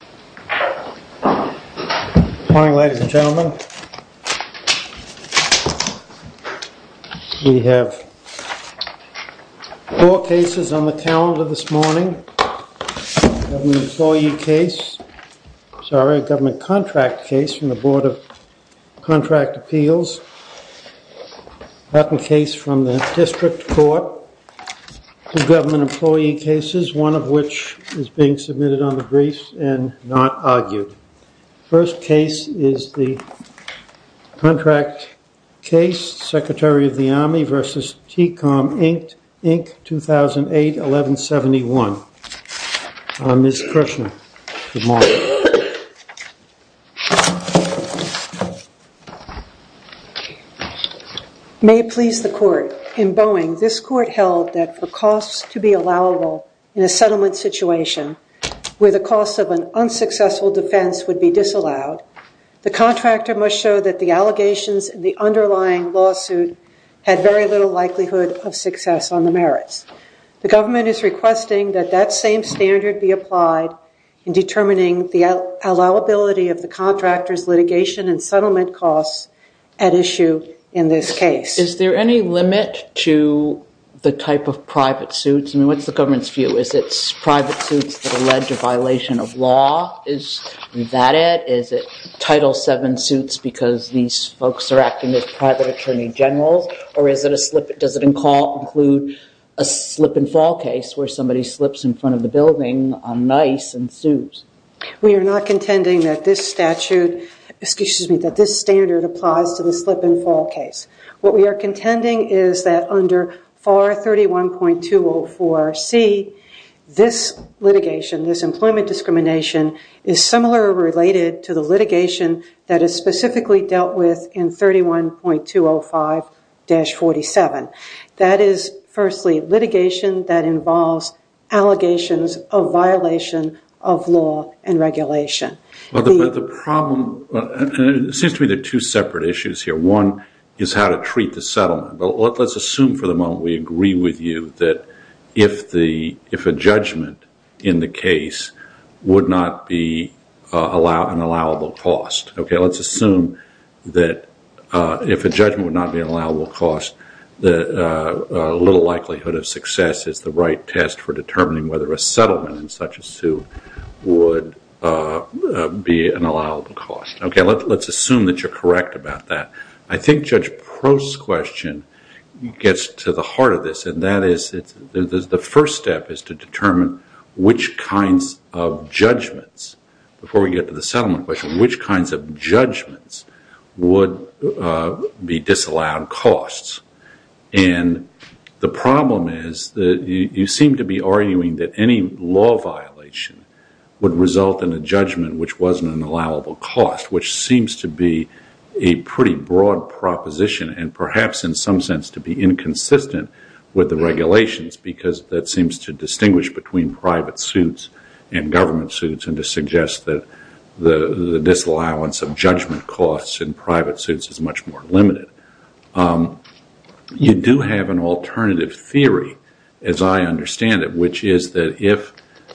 Good morning, ladies and gentlemen. We have four cases on the calendar this morning. Government contract case from the board of contract appeals, a case from the district court, two government not argued. First case is the contract case, Secretary of the Army v. Tecom, Inc., 2008-1171. Ms. Kershner. Good morning. May it please the court, in Boeing, this court held that for costs to be allowable in a settlement situation, where the cost of an unsuccessful defense would be disallowed, the contractor must show that the allegations in the underlying lawsuit had very little likelihood of success on the merits. The government is requesting that that same standard be applied in determining the allowability of the contractor's litigation and settlement costs at issue in this case. Is there any limit to the type of private suits? I mean, what's the government's view? Is it private suits that allege a violation of law? Is that it? Is it Title VII suits because these folks are acting as private attorney generals? Or does it include a slip-and-fall case where somebody slips in front of the applies to the slip-and-fall case? What we are contending is that under FAR 31.204C, this litigation, this employment discrimination, is similar related to the litigation that is specifically dealt with in 31.205-47. That is, firstly, litigation that involves allegations of violation of law and regulation. But the problem, and it seems to me there are two separate issues here. One is how to treat the settlement. But let's assume for the moment we agree with you that if a judgment in the case would not be an allowable cost, okay? Let's assume that if a judgment would not be an allowable cost, the little likelihood of success is the right test for determining whether a settlement in such a suit would be an allowable cost. Okay, let's assume that you're correct about that. I think Judge Prost's question gets to the heart of this, and that is the first step is to determine which kinds of judgments, before we get to the settlement question, which kinds of judgments would be disallowed costs. And the problem is you seem to be arguing that any law violation would result in a judgment which wasn't an allowable cost, which seems to be a pretty broad proposition and perhaps in some sense to be inconsistent with the regulations because that seems to distinguish between private suits and government suits and to suggest that the disallowance of judgment costs in private suits is much more limited. You do have an alternative theory, as I understand it, which is that if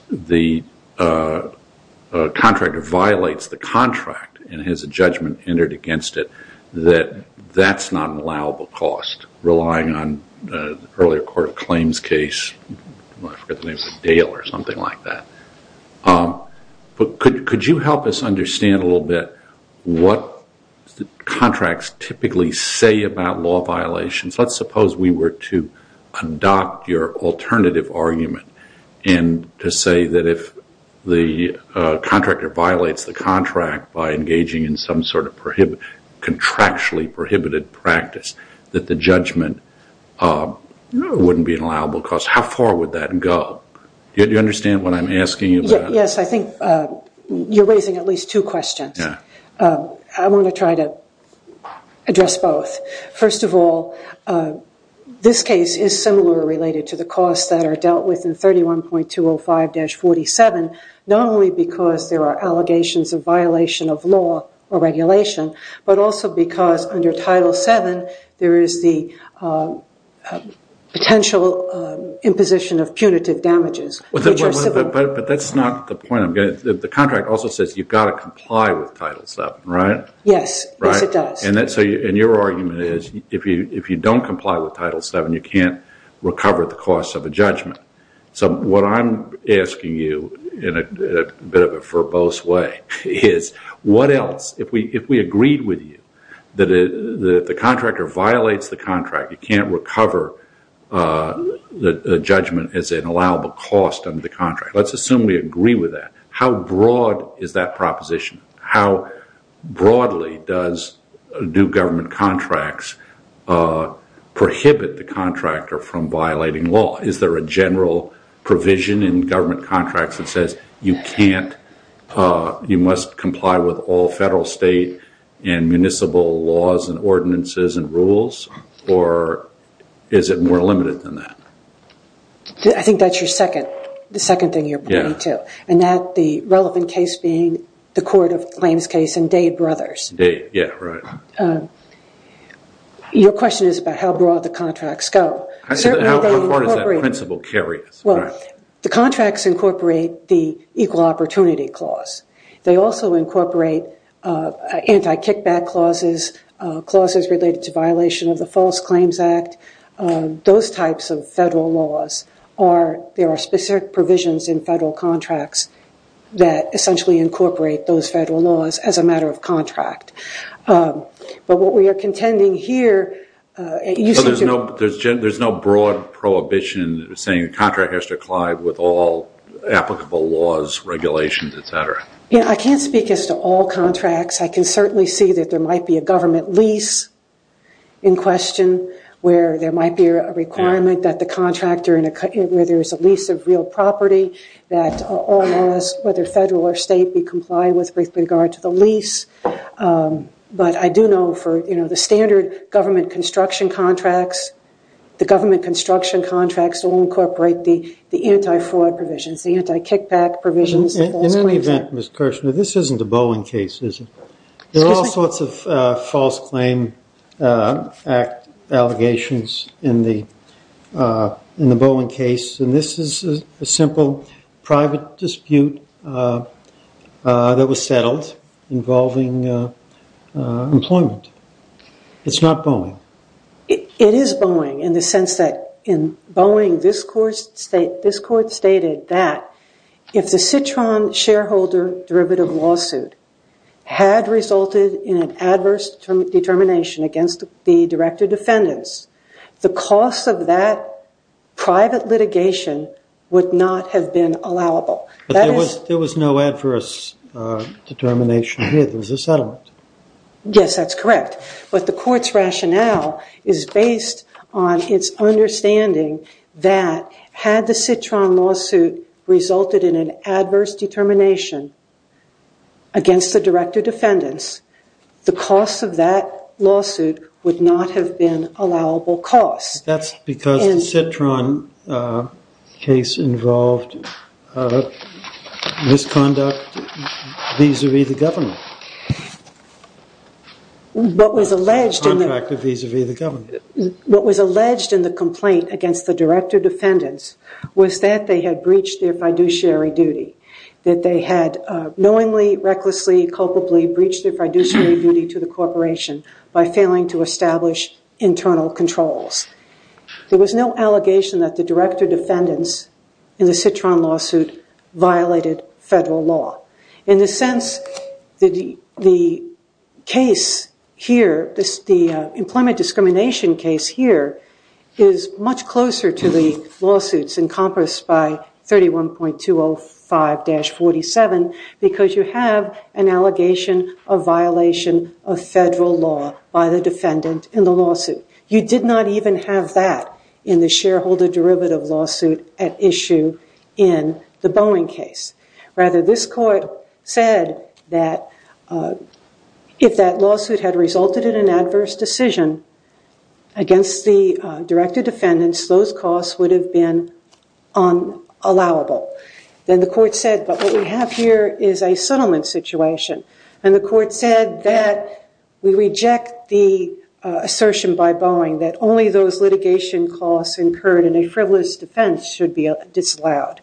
the contractor violates the contract and has a judgment entered against it, that that's not an allowable cost, relying on earlier court claims case, I forget the name, Dale or something like that. But could you help us understand a little bit what contracts typically say about law violations? Let's suppose we were to adopt your alternative argument and to say that if the contractor violates the contract by engaging in some sort of contractually prohibited practice, that the judgment wouldn't be an allowable cost. How far would that go? Do you understand what I'm asking you about? Yes, I think you're raising at least two questions. I want to try to address both. First of all, this case is similar related to the costs that are dealt with in 31.205-47, not only because there are allegations of violation of law or regulation, but also because under But that's not the point. The contract also says you've got to comply with Title VII, right? Yes, yes it does. And your argument is if you don't comply with Title VII, you can't recover the costs of a judgment. So what I'm asking you, in a bit of a verbose way, is what else, if we agreed with you, that if the contractor violates the contract, you can't recover the judgment as an allowable cost under the contract. Let's assume we agree with that. How broad is that proposition? How broadly do government contracts prohibit the contractor from violating law? Is there a general provision in government contracts that says you can't, you must comply with all federal, state, and municipal laws and ordinances and rules? Or is it more limited than that? I think that's your second, the second thing you're pointing to. And that, the relevant case being the Court of Claims case and Day Brothers. Your question is about how broad the contracts go. How far does that principle carry us? Well, the contracts incorporate the Equal Opportunity Clause. They also incorporate anti-kickback clauses, clauses related to violation of the False Claims Act. Those types of federal laws are, there are specific provisions in federal contracts that essentially incorporate those federal laws as a matter of contract. But what we are contending here, you seem to There's no broad prohibition saying a contract has to comply with all applicable laws, regulations, et cetera. Yeah, I can't speak as to all contracts. I can certainly see that there might be a government lease in question where there might be a requirement that the contractor, where there is a lease of real property, that all laws, whether federal or state, be complied with with regard to the government construction contracts or incorporate the anti-fraud provisions, the anti-kickback provisions. In any event, Ms. Kirshner, this isn't a Boeing case, is it? There are all sorts of False Claim Act allegations in the Boeing case, and this is a simple private dispute that was settled involving employment. It's not Boeing. It is Boeing in the sense that in Boeing, this court stated that if the Citron shareholder derivative lawsuit had resulted in an adverse determination against the director defendants, the cost of that private litigation would not have been allowable. But there was no adverse determination here. There was a settlement. Yes, that's correct. But the court's rationale is based on its understanding that had the Citron lawsuit resulted in an adverse determination against the director defendants, the cost of that lawsuit would not have been allowable costs. That's because the Citron case involved misconduct vis-a-vis the government. What was alleged in the complaint against the director defendants was that they had breached their fiduciary duty, that they had knowingly, recklessly, culpably breached their duty to establish internal controls. There was no allegation that the director defendants in the Citron lawsuit violated federal law. In a sense, the case here, the employment discrimination case here, is much closer to the lawsuits encompassed by 31.205-47 because you have an allegation of violation of federal law by the defendant in the lawsuit. You did not even have that in the shareholder derivative lawsuit at issue in the Boeing case. Rather, this court said that if that lawsuit had resulted in an adverse decision against the director defendants, those costs would have been allowable. Then the court said, but what we have here is a settlement situation. The court said that we reject the assertion by Boeing that only those litigation costs incurred in a frivolous defense should be disallowed.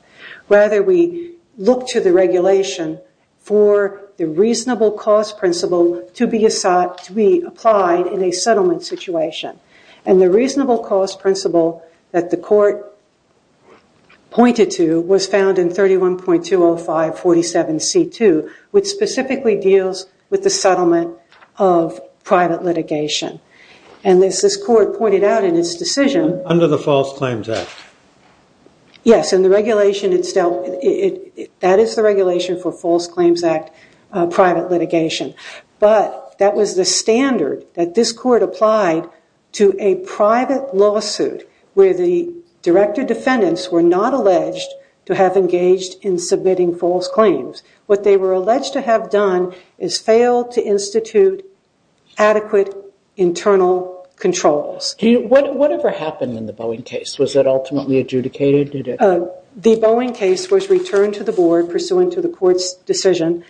Rather, we look to the regulation for the reasonable cost principle to be applied in a settlement situation. The reasonable cost principle that the court pointed to was found in 31.205-47-C2, which specifically deals with the settlement of private litigation. As this court pointed out in its decision- Under the False Claims Act. Yes. That is the regulation for False to a private lawsuit where the director defendants were not alleged to have engaged in submitting false claims. What they were alleged to have done is fail to institute adequate internal controls. Whatever happened in the Boeing case, was it ultimately adjudicated? The Boeing case was returned to the board pursuant to the court's decision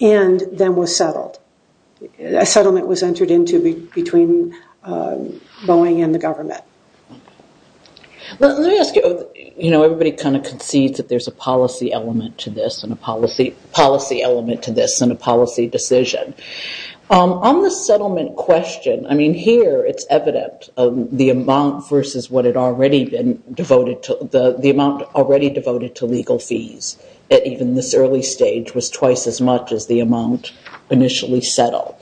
and then was settled. A settlement was entered into between Boeing and the government. Let me ask you, everybody concedes that there's a policy element to this and a policy decision. On the settlement question, here it's evident the amount versus what had already been devoted, the amount already devoted to legal fees at even this early stage was twice as much as the amount initially settled.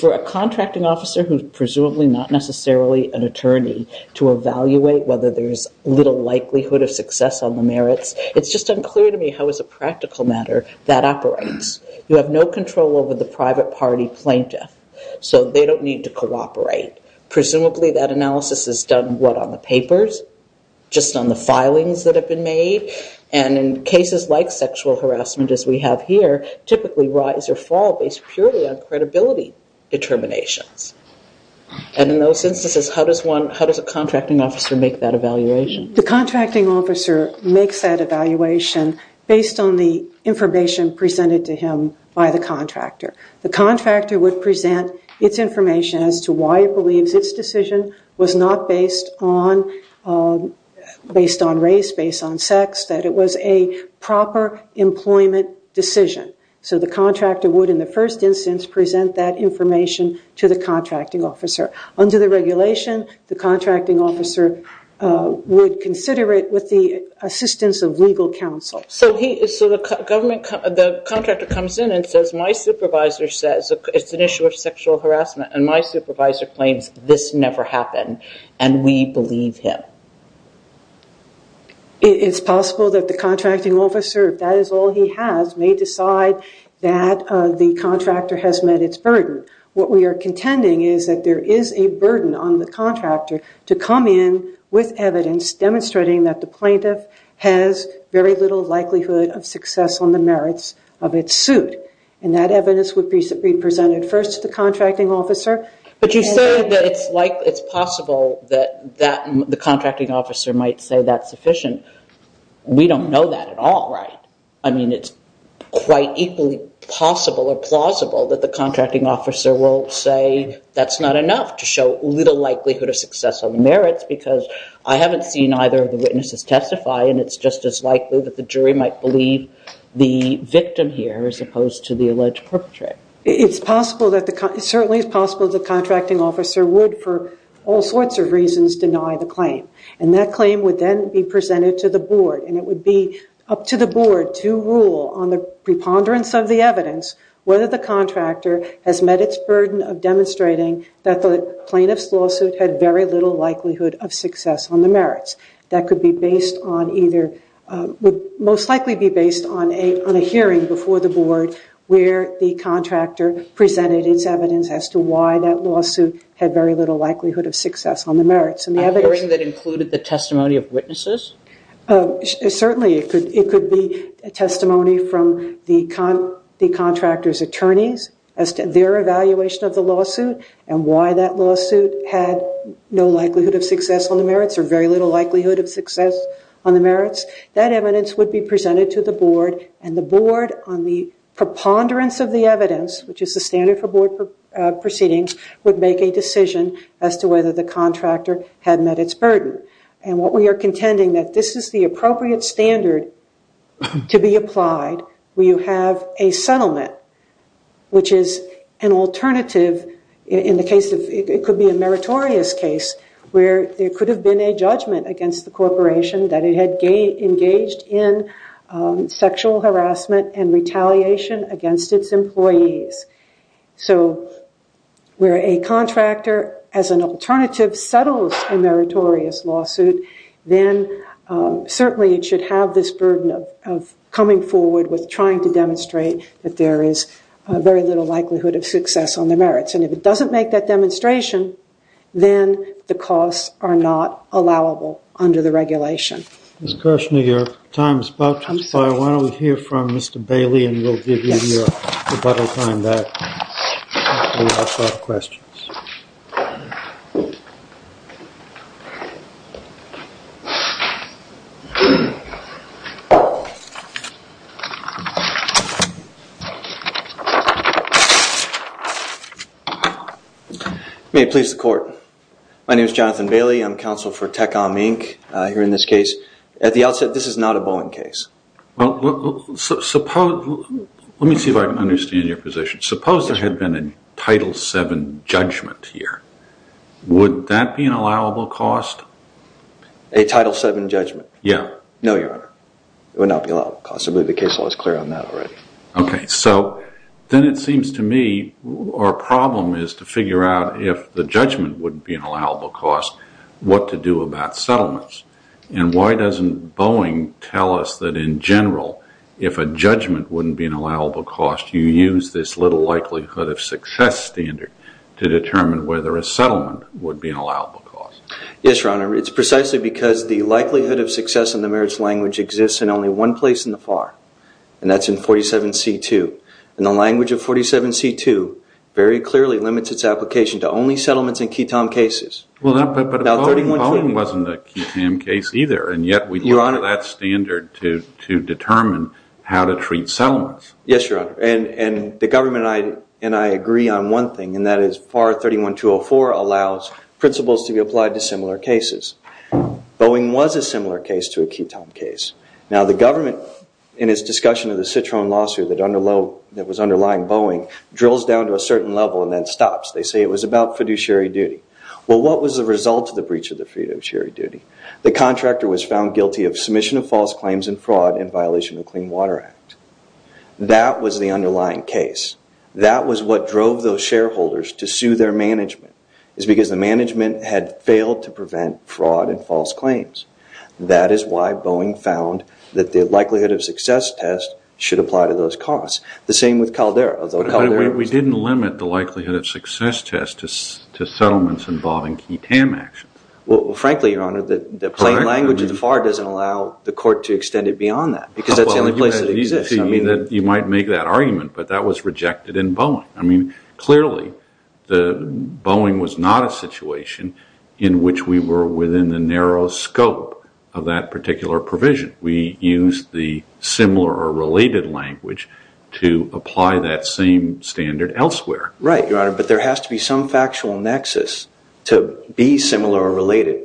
For a contracting officer who's presumably not necessarily an attorney to evaluate whether there's little likelihood of success on the merits, it's just unclear to me how as a practical matter that operates. You have no control over the private party plaintiff, so they don't need to cooperate. Presumably that analysis is done what on the papers, just on the filings that have been made. In cases like sexual harassment as we have here, typically rise or fall based purely on credibility determinations. In those instances, how does a contracting officer make that evaluation? The contracting officer makes that evaluation based on the information presented to him by the contractor. The contractor would present its information as to why it believes its employment decision. The contractor would, in the first instance, present that information to the contracting officer. Under the regulation, the contracting officer would consider it with the assistance of legal counsel. The contractor comes in and says, my supervisor says it's an issue of sexual harassment and my supervisor claims this never happened and we believe him. It's possible that the contracting officer, if that is all he has, may decide that the contractor has met its burden. What we are contending is that there is a burden on the contractor to come in with evidence demonstrating that the plaintiff has very little likelihood of success on the merits of its suit. That evidence would be presented first to the contracting officer. But you say that it's possible that the contracting officer might say that's sufficient. We don't know that at all, right? It's quite equally possible or plausible that the contracting officer will say that's not enough to show little likelihood of success on the merits because I haven't seen either of the witnesses testify and it's just as likely that the jury might believe the victim here as opposed to the alleged perpetrator. It's certainly possible that the contracting officer would, for all sorts of reasons, deny the claim. And that claim would then be presented to the board and it would be up to the board to rule on the preponderance of the evidence whether the contractor has met its burden of demonstrating that the plaintiff's lawsuit had very little likelihood of success on the merits. That would most likely be based on a hearing before the board where the contractor presented its evidence as to why that lawsuit had very little likelihood of success on the merits. A hearing that included the testimony of witnesses? Certainly it could be a testimony from the contractor's attorneys as to their evaluation of the lawsuit and why that lawsuit had no likelihood of success on the merits or very little likelihood of success on the merits. That evidence would be presented to the board and the board on the preponderance of the evidence, which is the standard for board proceedings, would make a decision as to whether the contractor had met its burden. And what we are contending that this is the appropriate standard to be applied where you have a settlement which is an alternative in the case of, it could be a meritorious case where there could have been a judgment against the corporation that it had engaged in sexual harassment and retaliation against its employees. So where a contractor as an alternative settles a meritorious lawsuit, then certainly it should have this burden of coming forward with trying to demonstrate that there is very little likelihood of success on the merits. And if it doesn't make that demonstration, then the costs are not allowable under the regulation. Ms. Kirshner, your time is about to expire. Why don't we hear from Mr. Bailey and we'll give you your rebuttal time back. May it please the court. My name is Jonathan Bailey. I'm counsel for Tech-On Inc. here in this case. At the outset, this is not a Boeing case. Well, suppose, let me see if I can understand your position. Suppose there had been a Title 7 judgment here. Would that be an allowable cost? A Title 7 judgment? Yeah. No, Your Honor. It would not be allowable cost. I believe the case law is clear on that already. Okay. So then it seems to me our problem is to figure out if the judgment wouldn't be an allowable cost, what to do about settlements. And why doesn't Boeing tell us that in general, if a judgment wouldn't be an allowable cost, you use this little likelihood of success standard to determine whether a settlement would be an allowable cost? Yes, Your Honor. It's precisely because the likelihood of success in the merits language exists in only one place in the FAR, and that's in 47C2. And the language of 47C2 very clearly limits its application to only settlements in Quitom cases. Well, but Boeing wasn't a Quitom case either, and yet we use that standard to determine how to treat settlements. Yes, Your Honor. And the government and I agree on one thing, and that is FAR 31204 allows principles to be applied to similar cases. Boeing was a similar case to a Quitom case. Now, the government in its discussion of the Citroen lawsuit that was underlying Boeing drills down to a certain level and then stops. They say it was about fiduciary duty. Well, what was the result of the breach of the fiduciary duty? The contractor was found guilty of submission of false claims and fraud in violation of the Clean Water Act. That was the underlying case. That was what drove those shareholders to sue their management, is because the management had failed to prevent fraud and false claims. That is why Boeing found that the likelihood of success test should apply to those costs. The same with Caldera. We didn't limit the likelihood of success test to settlements involving Quitom action. Well, frankly, Your Honor, the plain language of the FAR doesn't allow the court to extend it beyond that, because that's the only place it exists. You might make that argument, but that was rejected in Boeing. Clearly, Boeing was not a situation in which we were within the narrow scope of that particular provision. We used the similar or related language to apply that same standard elsewhere. Right, Your Honor, but there has to be some factual nexus to be similar or related.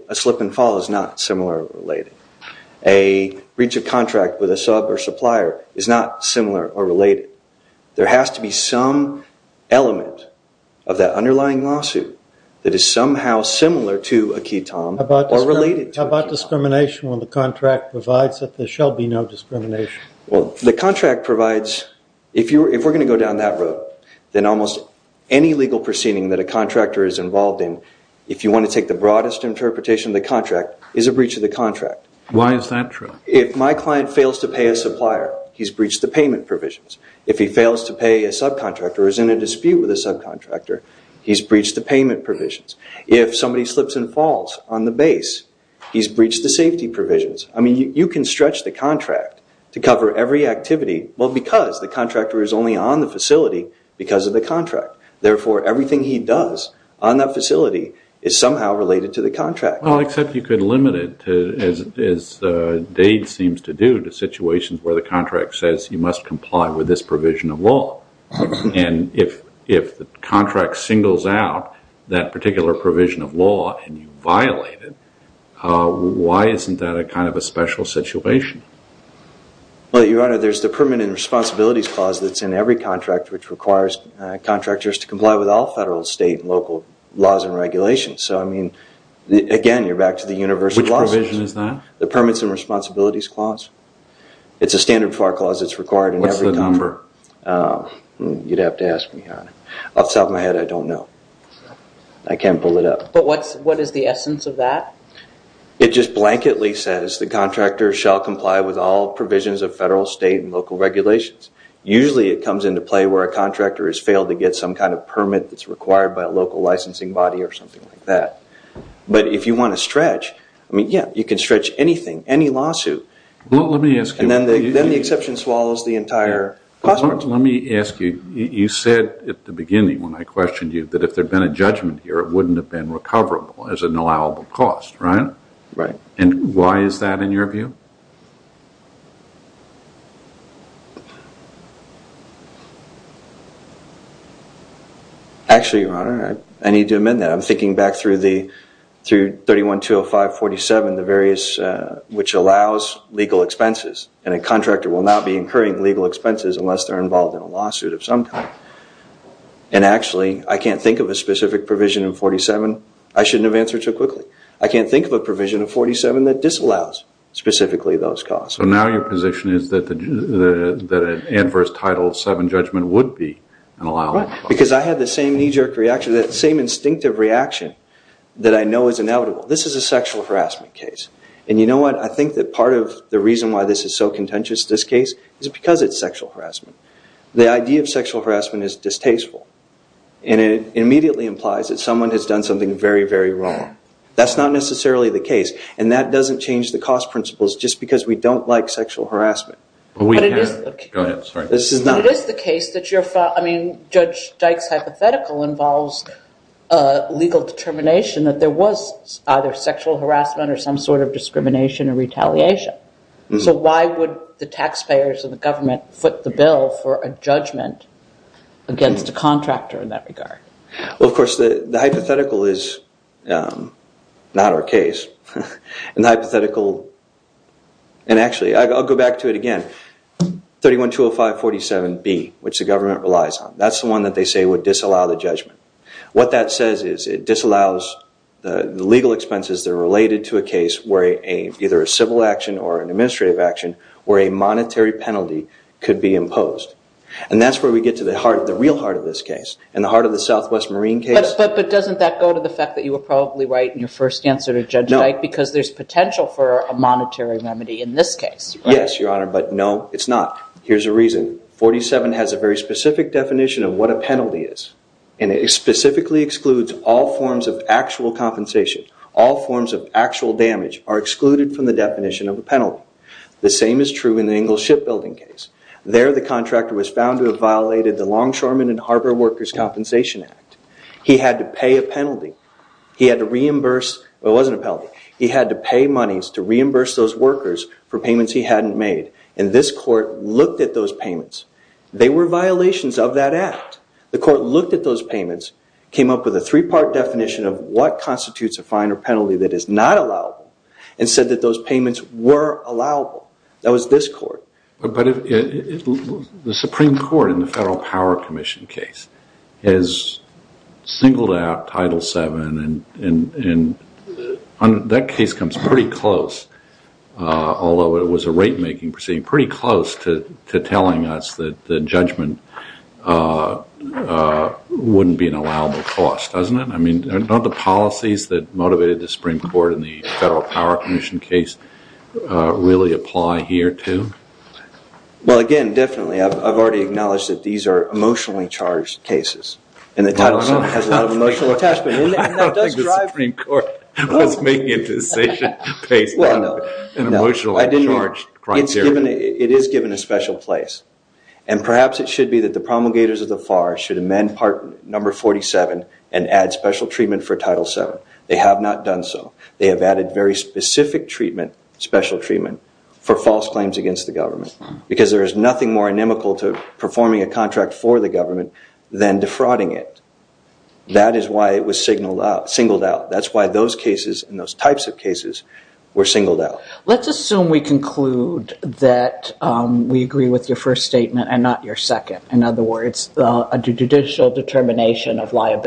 A breach of contract with a sub or supplier is not similar or related. There has to be some element of that underlying lawsuit that is somehow similar to a Quitom or related to a Quitom. How about discrimination when the contract provides that there shall be no discrimination? Well, the contract provides, if we're going to go down that road, then almost any legal proceeding that a contractor is involved in, if you want to take the broadest interpretation of the contract, is a breach of the contract. Why is that true? If my client fails to pay a supplier, he's breached the payment provisions. If he fails to pay a subcontractor or is in a dispute with a subcontractor, he's breached the payment provisions. If somebody slips and falls on the base, he's breached the safety provisions. You can stretch the contract to cover every activity, well, because the contractor is only on the facility because of the contract. Therefore, everything he does on that facility is somehow related to the contract. Well, except you could limit it, as Dade seems to do, to situations where the contract says you must comply with this provision of law. If the contract singles out that particular provision of law and you violate it, why isn't that a kind of a special situation? Well, Your Honor, there's the Permanent Responsibilities Clause that's in every contract which requires contractors to comply with all federal, state, and local laws and regulations. So, I mean, again, you're back to the universal clauses. Which provision is that? The Permits and Responsibilities Clause. It's a standard FAR clause that's required in every contract. What's the number? You'd have to ask me, Your Honor. Off the top of my head, I don't know. I can't pull it up. But what is the essence of that? It just blanketly says the contractor shall comply with all provisions of federal, state, and local regulations. Usually, it comes into play where a contractor has failed to get some kind of permit that's required by a local licensing body or something like that. But if you want to stretch, I mean, yeah, you can stretch anything, any lawsuit. Well, let me ask you... And then the exception swallows the entire process. Let me ask you, you said at the beginning when I questioned you that if there had been a judgment here, it wouldn't have been recoverable as an allowable cost, right? Right. And why is that, in your view? Actually, Your Honor, I need to amend that. I'm thinking back through 31205-47, the various, which allows legal expenses. And a contractor will not be incurring legal expenses unless they're involved in a lawsuit of some kind. And actually, I can't think of a specific provision in 47. I shouldn't have answered so quickly. I can't think of a provision in 47 that disallows specifically those costs. So now your position is that an adverse Title VII judgment would be an allowable cost? Because I had the same knee-jerk reaction, that same instinctive reaction that I know is inevitable. This is a sexual harassment case. And you know what? I think that part of the reason why this is so contentious, this case, is because it's sexual harassment. The idea of sexual harassment is distasteful. And it immediately implies that someone has done something very, very wrong. That's not necessarily the case. And that doesn't change the cost principles just because we don't like sexual harassment. But it is the case that you're, I mean, Judge Dyke's hypothetical involves legal determination that there was either sexual harassment or some sort of discrimination or retaliation. So why would the taxpayers and the government foot the bill for a judgment against a contractor in that regard? Well, of course, the hypothetical is not our case. And the hypothetical, and actually I'll go back to it again, 3120547B, which the government relies on. That's the one that they say would disallow the judgment. What that says is it disallows the legal expenses that are related to a case where either a civil action or an administrative action or a monetary penalty could be imposed. And that's where we get to the real heart of this case and the heart of the Southwest Marine case. But doesn't that go to the fact that you were probably right in your first answer to Judge Dyke because there's potential for a monetary remedy in this case, right? Yes, Your Honor, but no, it's not. Here's a reason. 47 has a very specific definition of what a penalty is. And it specifically excludes all forms of actual compensation. All forms of actual damage are excluded from the definition of a penalty. The same is true in the Ingalls Shipbuilding case. There the contractor was found to have violated the Longshoremen and Harbor Workers' Compensation Act. He had to pay a penalty. He had to reimburse – well, it wasn't a penalty. He had to pay monies to reimburse those workers for payments he hadn't made. And this court looked at those payments. They were violations of that act. The court looked at those payments, came up with a three-part definition of what constitutes a fine or penalty that is not allowable, and said that those payments were allowable. That was this court. But the Supreme Court in the Federal Power Commission case has singled out Title VII, and that case comes pretty close, although it was a rate-making proceeding, pretty close to telling us that the judgment wouldn't be an allowable cost, doesn't it? I mean, none of the policies that motivated the Supreme Court in the Federal Power Commission case really apply here, too? Well, again, definitely. I've already acknowledged that these are emotionally-charged cases, and that Title VII has a lot of emotional attachment. I don't think the Supreme Court was making a decision based on an emotionally-charged criteria. It is given a special place. And perhaps it should be that the promulgators of the FAR should amend Part No. 47 and add special treatment for Title VII. They have not done so. They have added very specific treatment, special treatment, for false claims against the government, because there is nothing more inimical to performing a contract for the government than defrauding it. That is why it was singled out. That's why those cases and those types of cases were singled out. Let's assume we conclude that we agree with your first statement and not your second. In other words, a judicial determination of What sense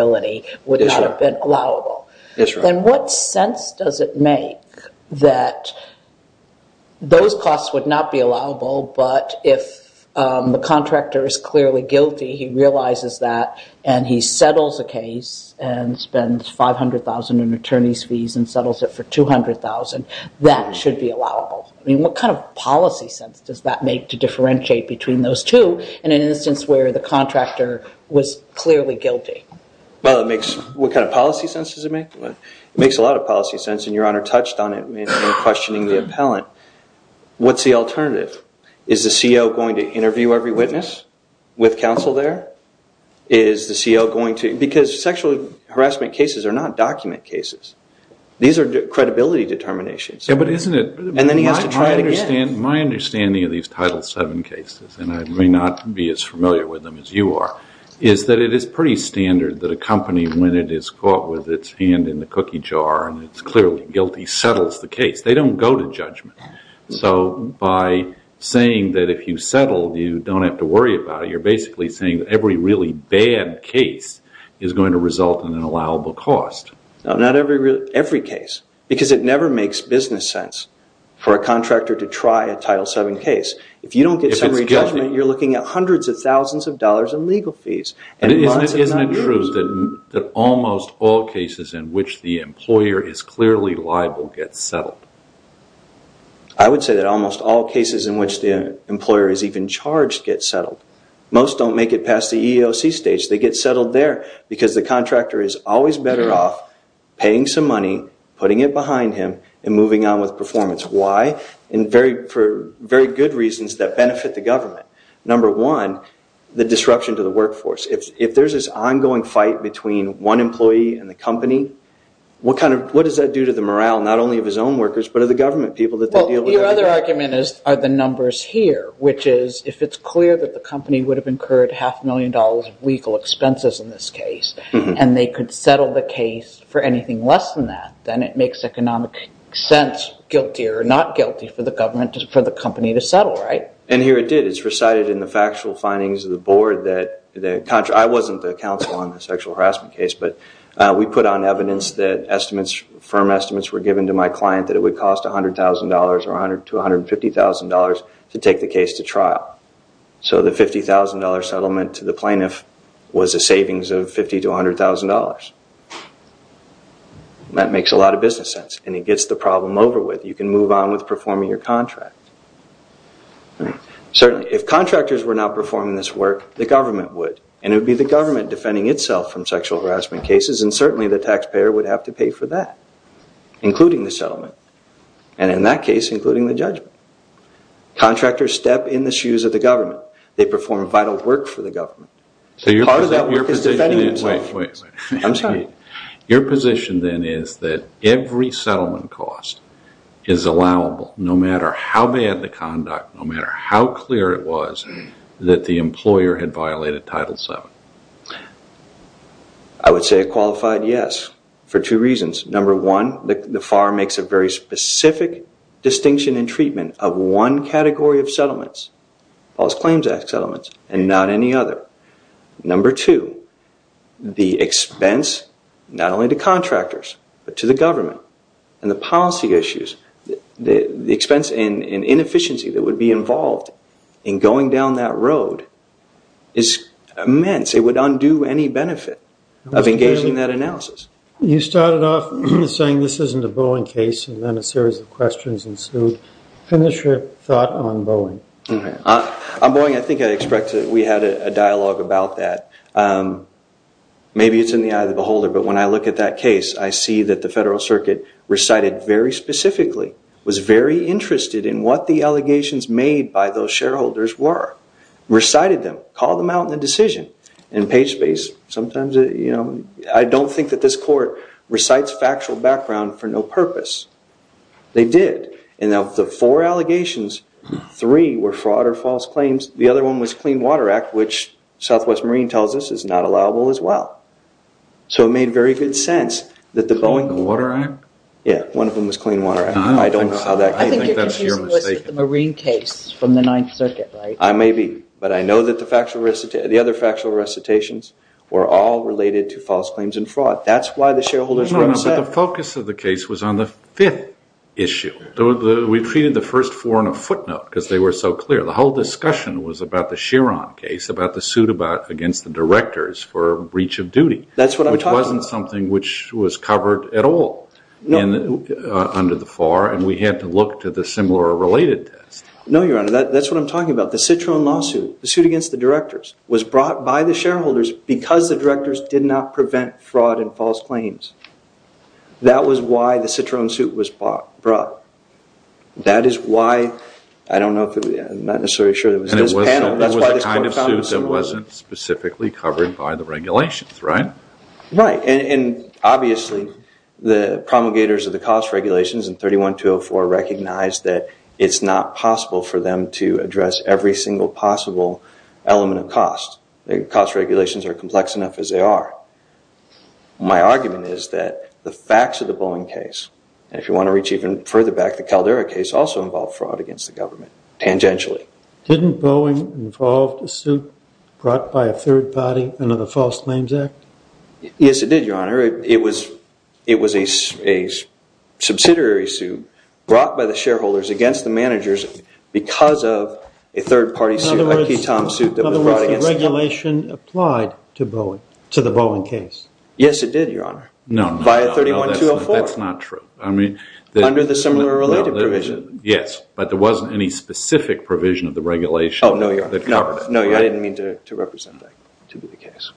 does it make that those costs would not be allowable, but if the contractor is clearly guilty, he realizes that, and he settles a case and spends $500,000 in attorney's fees and settles it for $200,000, that should be allowable? I mean, what kind of policy sense does that make to differentiate between those two in an instance where the contractor was clearly guilty? Well, it makes, what kind of policy sense does it make? It makes a lot of policy sense, and Your Honor touched on it in questioning the appellant. What's the alternative? Is the CO going to interview every witness with counsel there? Is the CO going to, because sexual harassment cases are not document cases. These are credibility determinations. Yeah, but isn't it, my understanding of these Title VII cases, and I may not be as familiar with them as you are, is that it is pretty standard that a company, when it is caught with its hand in the cookie jar and it's clearly guilty, settles the case. They don't go to judgment. So by saying that if you settle, you don't have to worry about it, you're basically saying that every really bad case is going to result in an allowable cost. No, not every case, because it never makes business sense for a contractor to try a Title VII case. If you don't get some re-judgment, you're looking at hundreds of thousands of dollars in legal fees. Isn't it true that almost all cases in which the employer is clearly liable get settled? I would say that almost all cases in which the employer is even charged get settled. Most don't make it past the EEOC stage, they get settled there because the contractor is always better off paying some money, putting it behind him, and moving on with performance. Why? For very good reasons that benefit the government. Number one, the disruption to the workforce. If there's this ongoing fight between one employee and the company, what does that do to the morale, not only of his own workers, but of the government people that they deal with every day? Well, your other argument is, are the numbers here, which is, if it's clear that the company would have incurred half a million dollars of legal expenses in this case, and they could settle the case for anything less than that, then it makes economic sense, guilty or not guilty for the government, for the company to settle, right? And here it did. It's recited in the factual findings of the board that, I wasn't the counsel on the sexual harassment case, but we put on evidence that firm estimates were given to my client that it would cost $100,000 to $150,000 to take the case to trial. So the $150,000 settlement to the plaintiff was a savings of $50,000 to $100,000. That makes a lot of business sense, and it gets the problem over with. You can move on with performing your contract. Certainly, if contractors were not performing this work, the government would, and it would be the government defending itself from sexual harassment cases, and certainly the taxpayer would have to pay for that, including the settlement, and in that case, including the the government. Part of that work is defending itself. Wait, wait, wait. I'm sorry. Your position then is that every settlement cost is allowable, no matter how bad the conduct, no matter how clear it was that the employer had violated Title VII? I would say a qualified yes, for two reasons. Number one, the FAR makes a very specific distinction in treatment of one category of settlements, False Claims Act settlements, and not any other. Number two, the expense, not only to contractors, but to the government, and the policy issues, the expense and inefficiency that would be involved in going down that road is immense. It would undo any benefit of engaging that analysis. You started off saying this isn't a Boeing case, and then a series of questions ensued. Finish your thought on Boeing. On Boeing, I think I expected we had a dialogue about that. Maybe it's in the eye of the beholder, but when I look at that case, I see that the Federal Circuit recited very specifically, was very interested in what the allegations made by those shareholders were, recited them, called them out in the decision. In page space, sometimes, I don't think that this court recites factual background for no purpose. They did, and of the four allegations, three were fraud or false claims. The other one was Clean Water Act, which Southwest Marine tells us is not allowable as well. So it made very good sense that the Boeing... The Clean Water Act? Yeah, one of them was Clean Water Act. I don't saw that case. I think you're confused with the Marine case from the Ninth Circuit, right? I may be, but I know that the other factual recitations were all related to false claims and fraud. That's why the shareholders were upset. No, no, but the focus of the case was on the fifth issue. We treated the first four on a footnote because they were so clear. The whole discussion was about the Chiron case, about the suit against the directors for breach of duty. That's what I'm talking about. Which wasn't something which was covered at all under the FAR, and we had to look to the similar related test. No, Your Honor, that's what I'm talking about. The Chiron lawsuit, the suit against the directors was brought by the shareholders because the directors did not prevent fraud and false claims. That was why the Chiron suit was brought. That is why, I don't know, I'm not necessarily sure that it was in this panel, that's why this court found it was. And it was the kind of suit that wasn't specifically covered by the regulations, right? Right, and obviously the promulgators of the cost regulations in 31-204 recognized that it's not possible for them to address every single possible element of cost. The cost regulations are complex enough as they are. My argument is that the facts of the Boeing case, and if you want to reach even further back, the Caldera case also involved fraud against the government, tangentially. Didn't Boeing involve a suit brought by a third party under the False Names Act? Yes, it did, Your Honor. It was a subsidiary suit brought by the shareholders against the managers because of a third party suit, a key time suit that was brought against them. In other words, the regulation applied to the Boeing case? Yes, it did, Your Honor. No. By 31-204. That's not true. Under the similar related provision. Yes, but there wasn't any specific provision of the regulation. Oh, no, Your Honor. No, I didn't mean to represent that to be the case.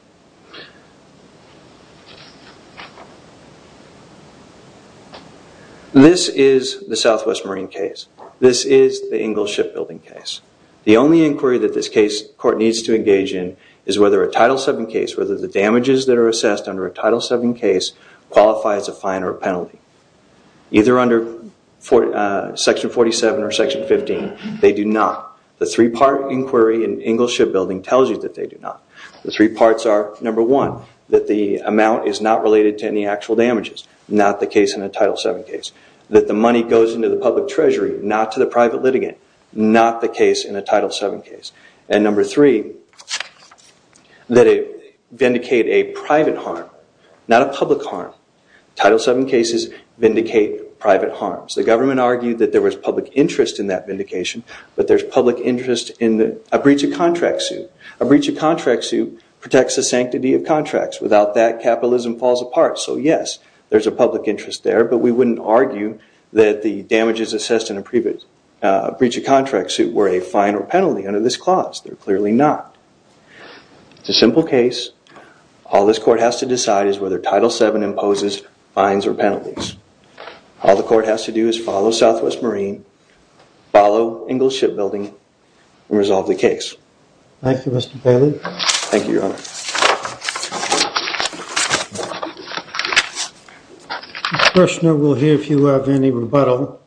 This is the Southwest Marine case. This is the Ingalls Shipbuilding case. The only inquiry that this case court needs to engage in is whether a Title VII case, whether the damages that are assessed under a Title VII case qualify as a fine or a penalty. Either under Section 47 or Section 15, they do not. The three-part inquiry in Ingalls Shipbuilding tells you that they do not. The three parts are, number one, that the amount is not related to any actual damages. Not the case in a Title VII case. That the money goes into the public treasury, not to the private litigant. Not the case in a Title VII case. And number three, that it vindicate a private harm, not a public harm. Title VII cases vindicate private harms. The government argued that there was public interest in that vindication, but there's public interest in a breach of contract suit. A breach of contract suit protects the sanctity of contracts. Without that, capitalism falls apart. So yes, there's a public interest there, but we wouldn't argue that the damages assessed in a breach of contract suit were a fine or penalty under this clause. They're clearly not. It's a simple case. All this court has to decide is whether Title VII imposes fines or penalties. All the court has to do is follow Southwest Marine, follow Ingalls Shipbuilding, and resolve the case. Thank you, Mr. Bailey. Thank you, Your Honor. The questioner will hear if you have any rebuttal.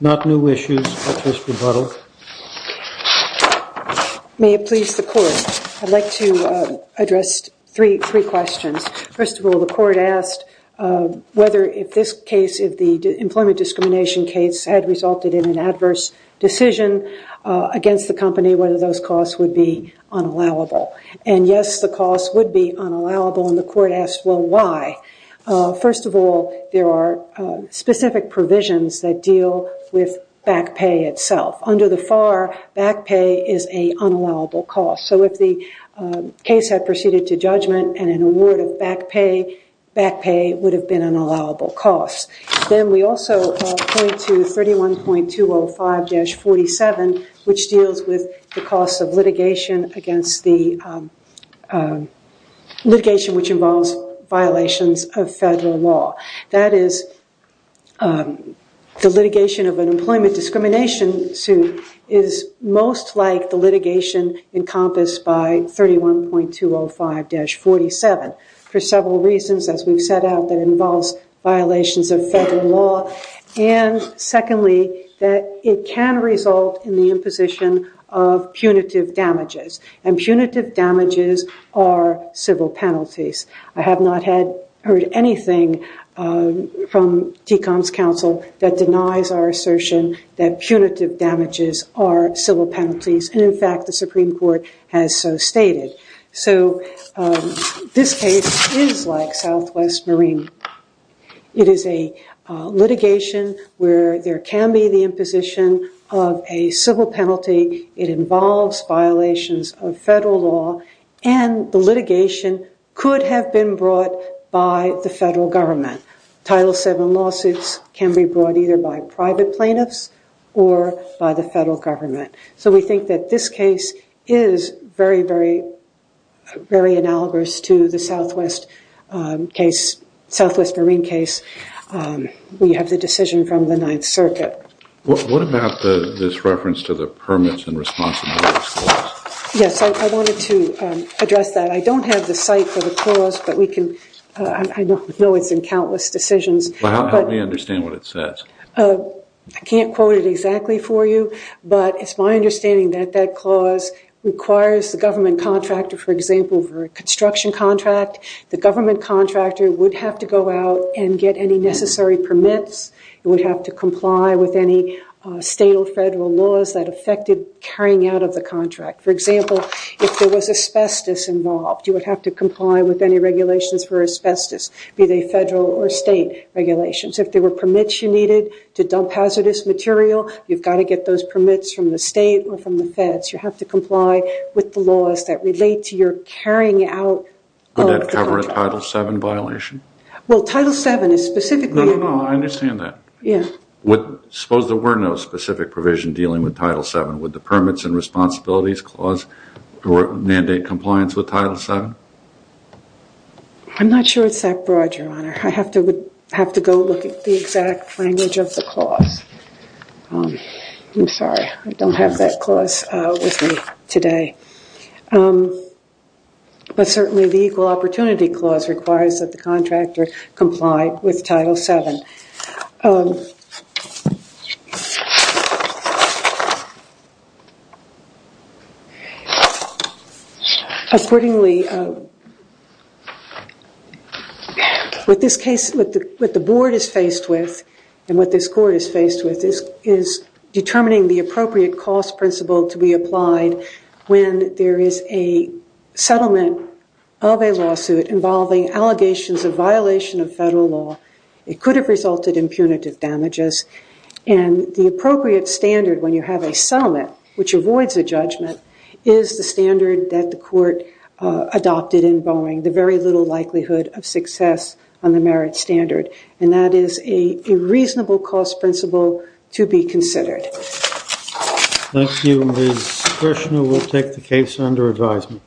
Not new issues, but just rebuttal. May it please the court, I'd like to address three questions. First of all, the court asked whether if this case, if the employment discrimination case, had resulted in an adverse decision against the company, whether those costs would be unallowable. And yes, the costs would be unallowable, and the court asked, well, why? First of all, there are specific provisions that deal with back pay itself. Under the FAR, back pay is an unallowable cost. So if the case had proceeded to judgment and an award of back pay, back pay would have been an allowable cost. Then we also point to 31.205-47, which deals with the cost of litigation against the, litigation which involves violations of federal law. That is, the litigation of an employment discrimination suit is most like the litigation encompassed by 31.205-47. For several reasons, as we've set out, that involves violations of federal law. And secondly, that it can result in the imposition of punitive damages. And punitive damages are civil penalties. I have not heard anything from TCOM's counsel that denies our assertion that punitive damages are civil penalties. And in fact, the Supreme Court has so stated. So this case is like Southwest Marine. It is a litigation where there can be the imposition of a civil penalty. It involves violations of federal law, and the litigation could have been brought by the federal government. Title VII lawsuits can be brought either by private plaintiffs or by the federal government. So we think that this case is very, very, very analogous to the Southwest Marine case. We have the decision from the Ninth Circuit. What about this reference to the permits and responsibilities clause? Yes, I wanted to address that. I don't have the site for the clause, but we can, I know it's in countless decisions. Help me understand what it says. I can't quote it exactly for you, but it's my understanding that that clause requires the government contractor, for example, for a construction contract. The government contractor would have to go out and get any necessary permits. It would have to comply with any state or federal laws that affected carrying out of the contract. For example, if there was asbestos involved, you would have to comply with any regulations for asbestos, be they federal or state regulations. If there were permits you needed to dump hazardous material, you've got to get those permits from the state or from the feds. You have to comply with the laws that relate to your carrying out of the contract. Would that cover a Title VII violation? Well, Title VII is specifically... No, no, no, I understand that. Yes. Suppose there were no specific provision dealing with Title VII. Would the permits and responsibilities clause mandate compliance with Title VII? I'm not sure it's that broad, Your Honor. I have to go look at the exact language of the clause. I'm sorry, I don't have that clause with me today. But certainly the equal opportunity clause requires that the contractor comply with Title VII. Accordingly, what the Board is faced with and what this Court is faced with is determining the appropriate cost principle to be applied when there is a settlement of a lawsuit involving allegations of violation of federal law. It could have resulted in punitive damages. And the appropriate standard when you have a settlement, which avoids a judgment, is the standard that the Court adopted in Boeing, the very little likelihood of success on the merit standard. And that is a reasonable cost principle to be considered. Thank you. Ms. Kershner will take the case under advisement.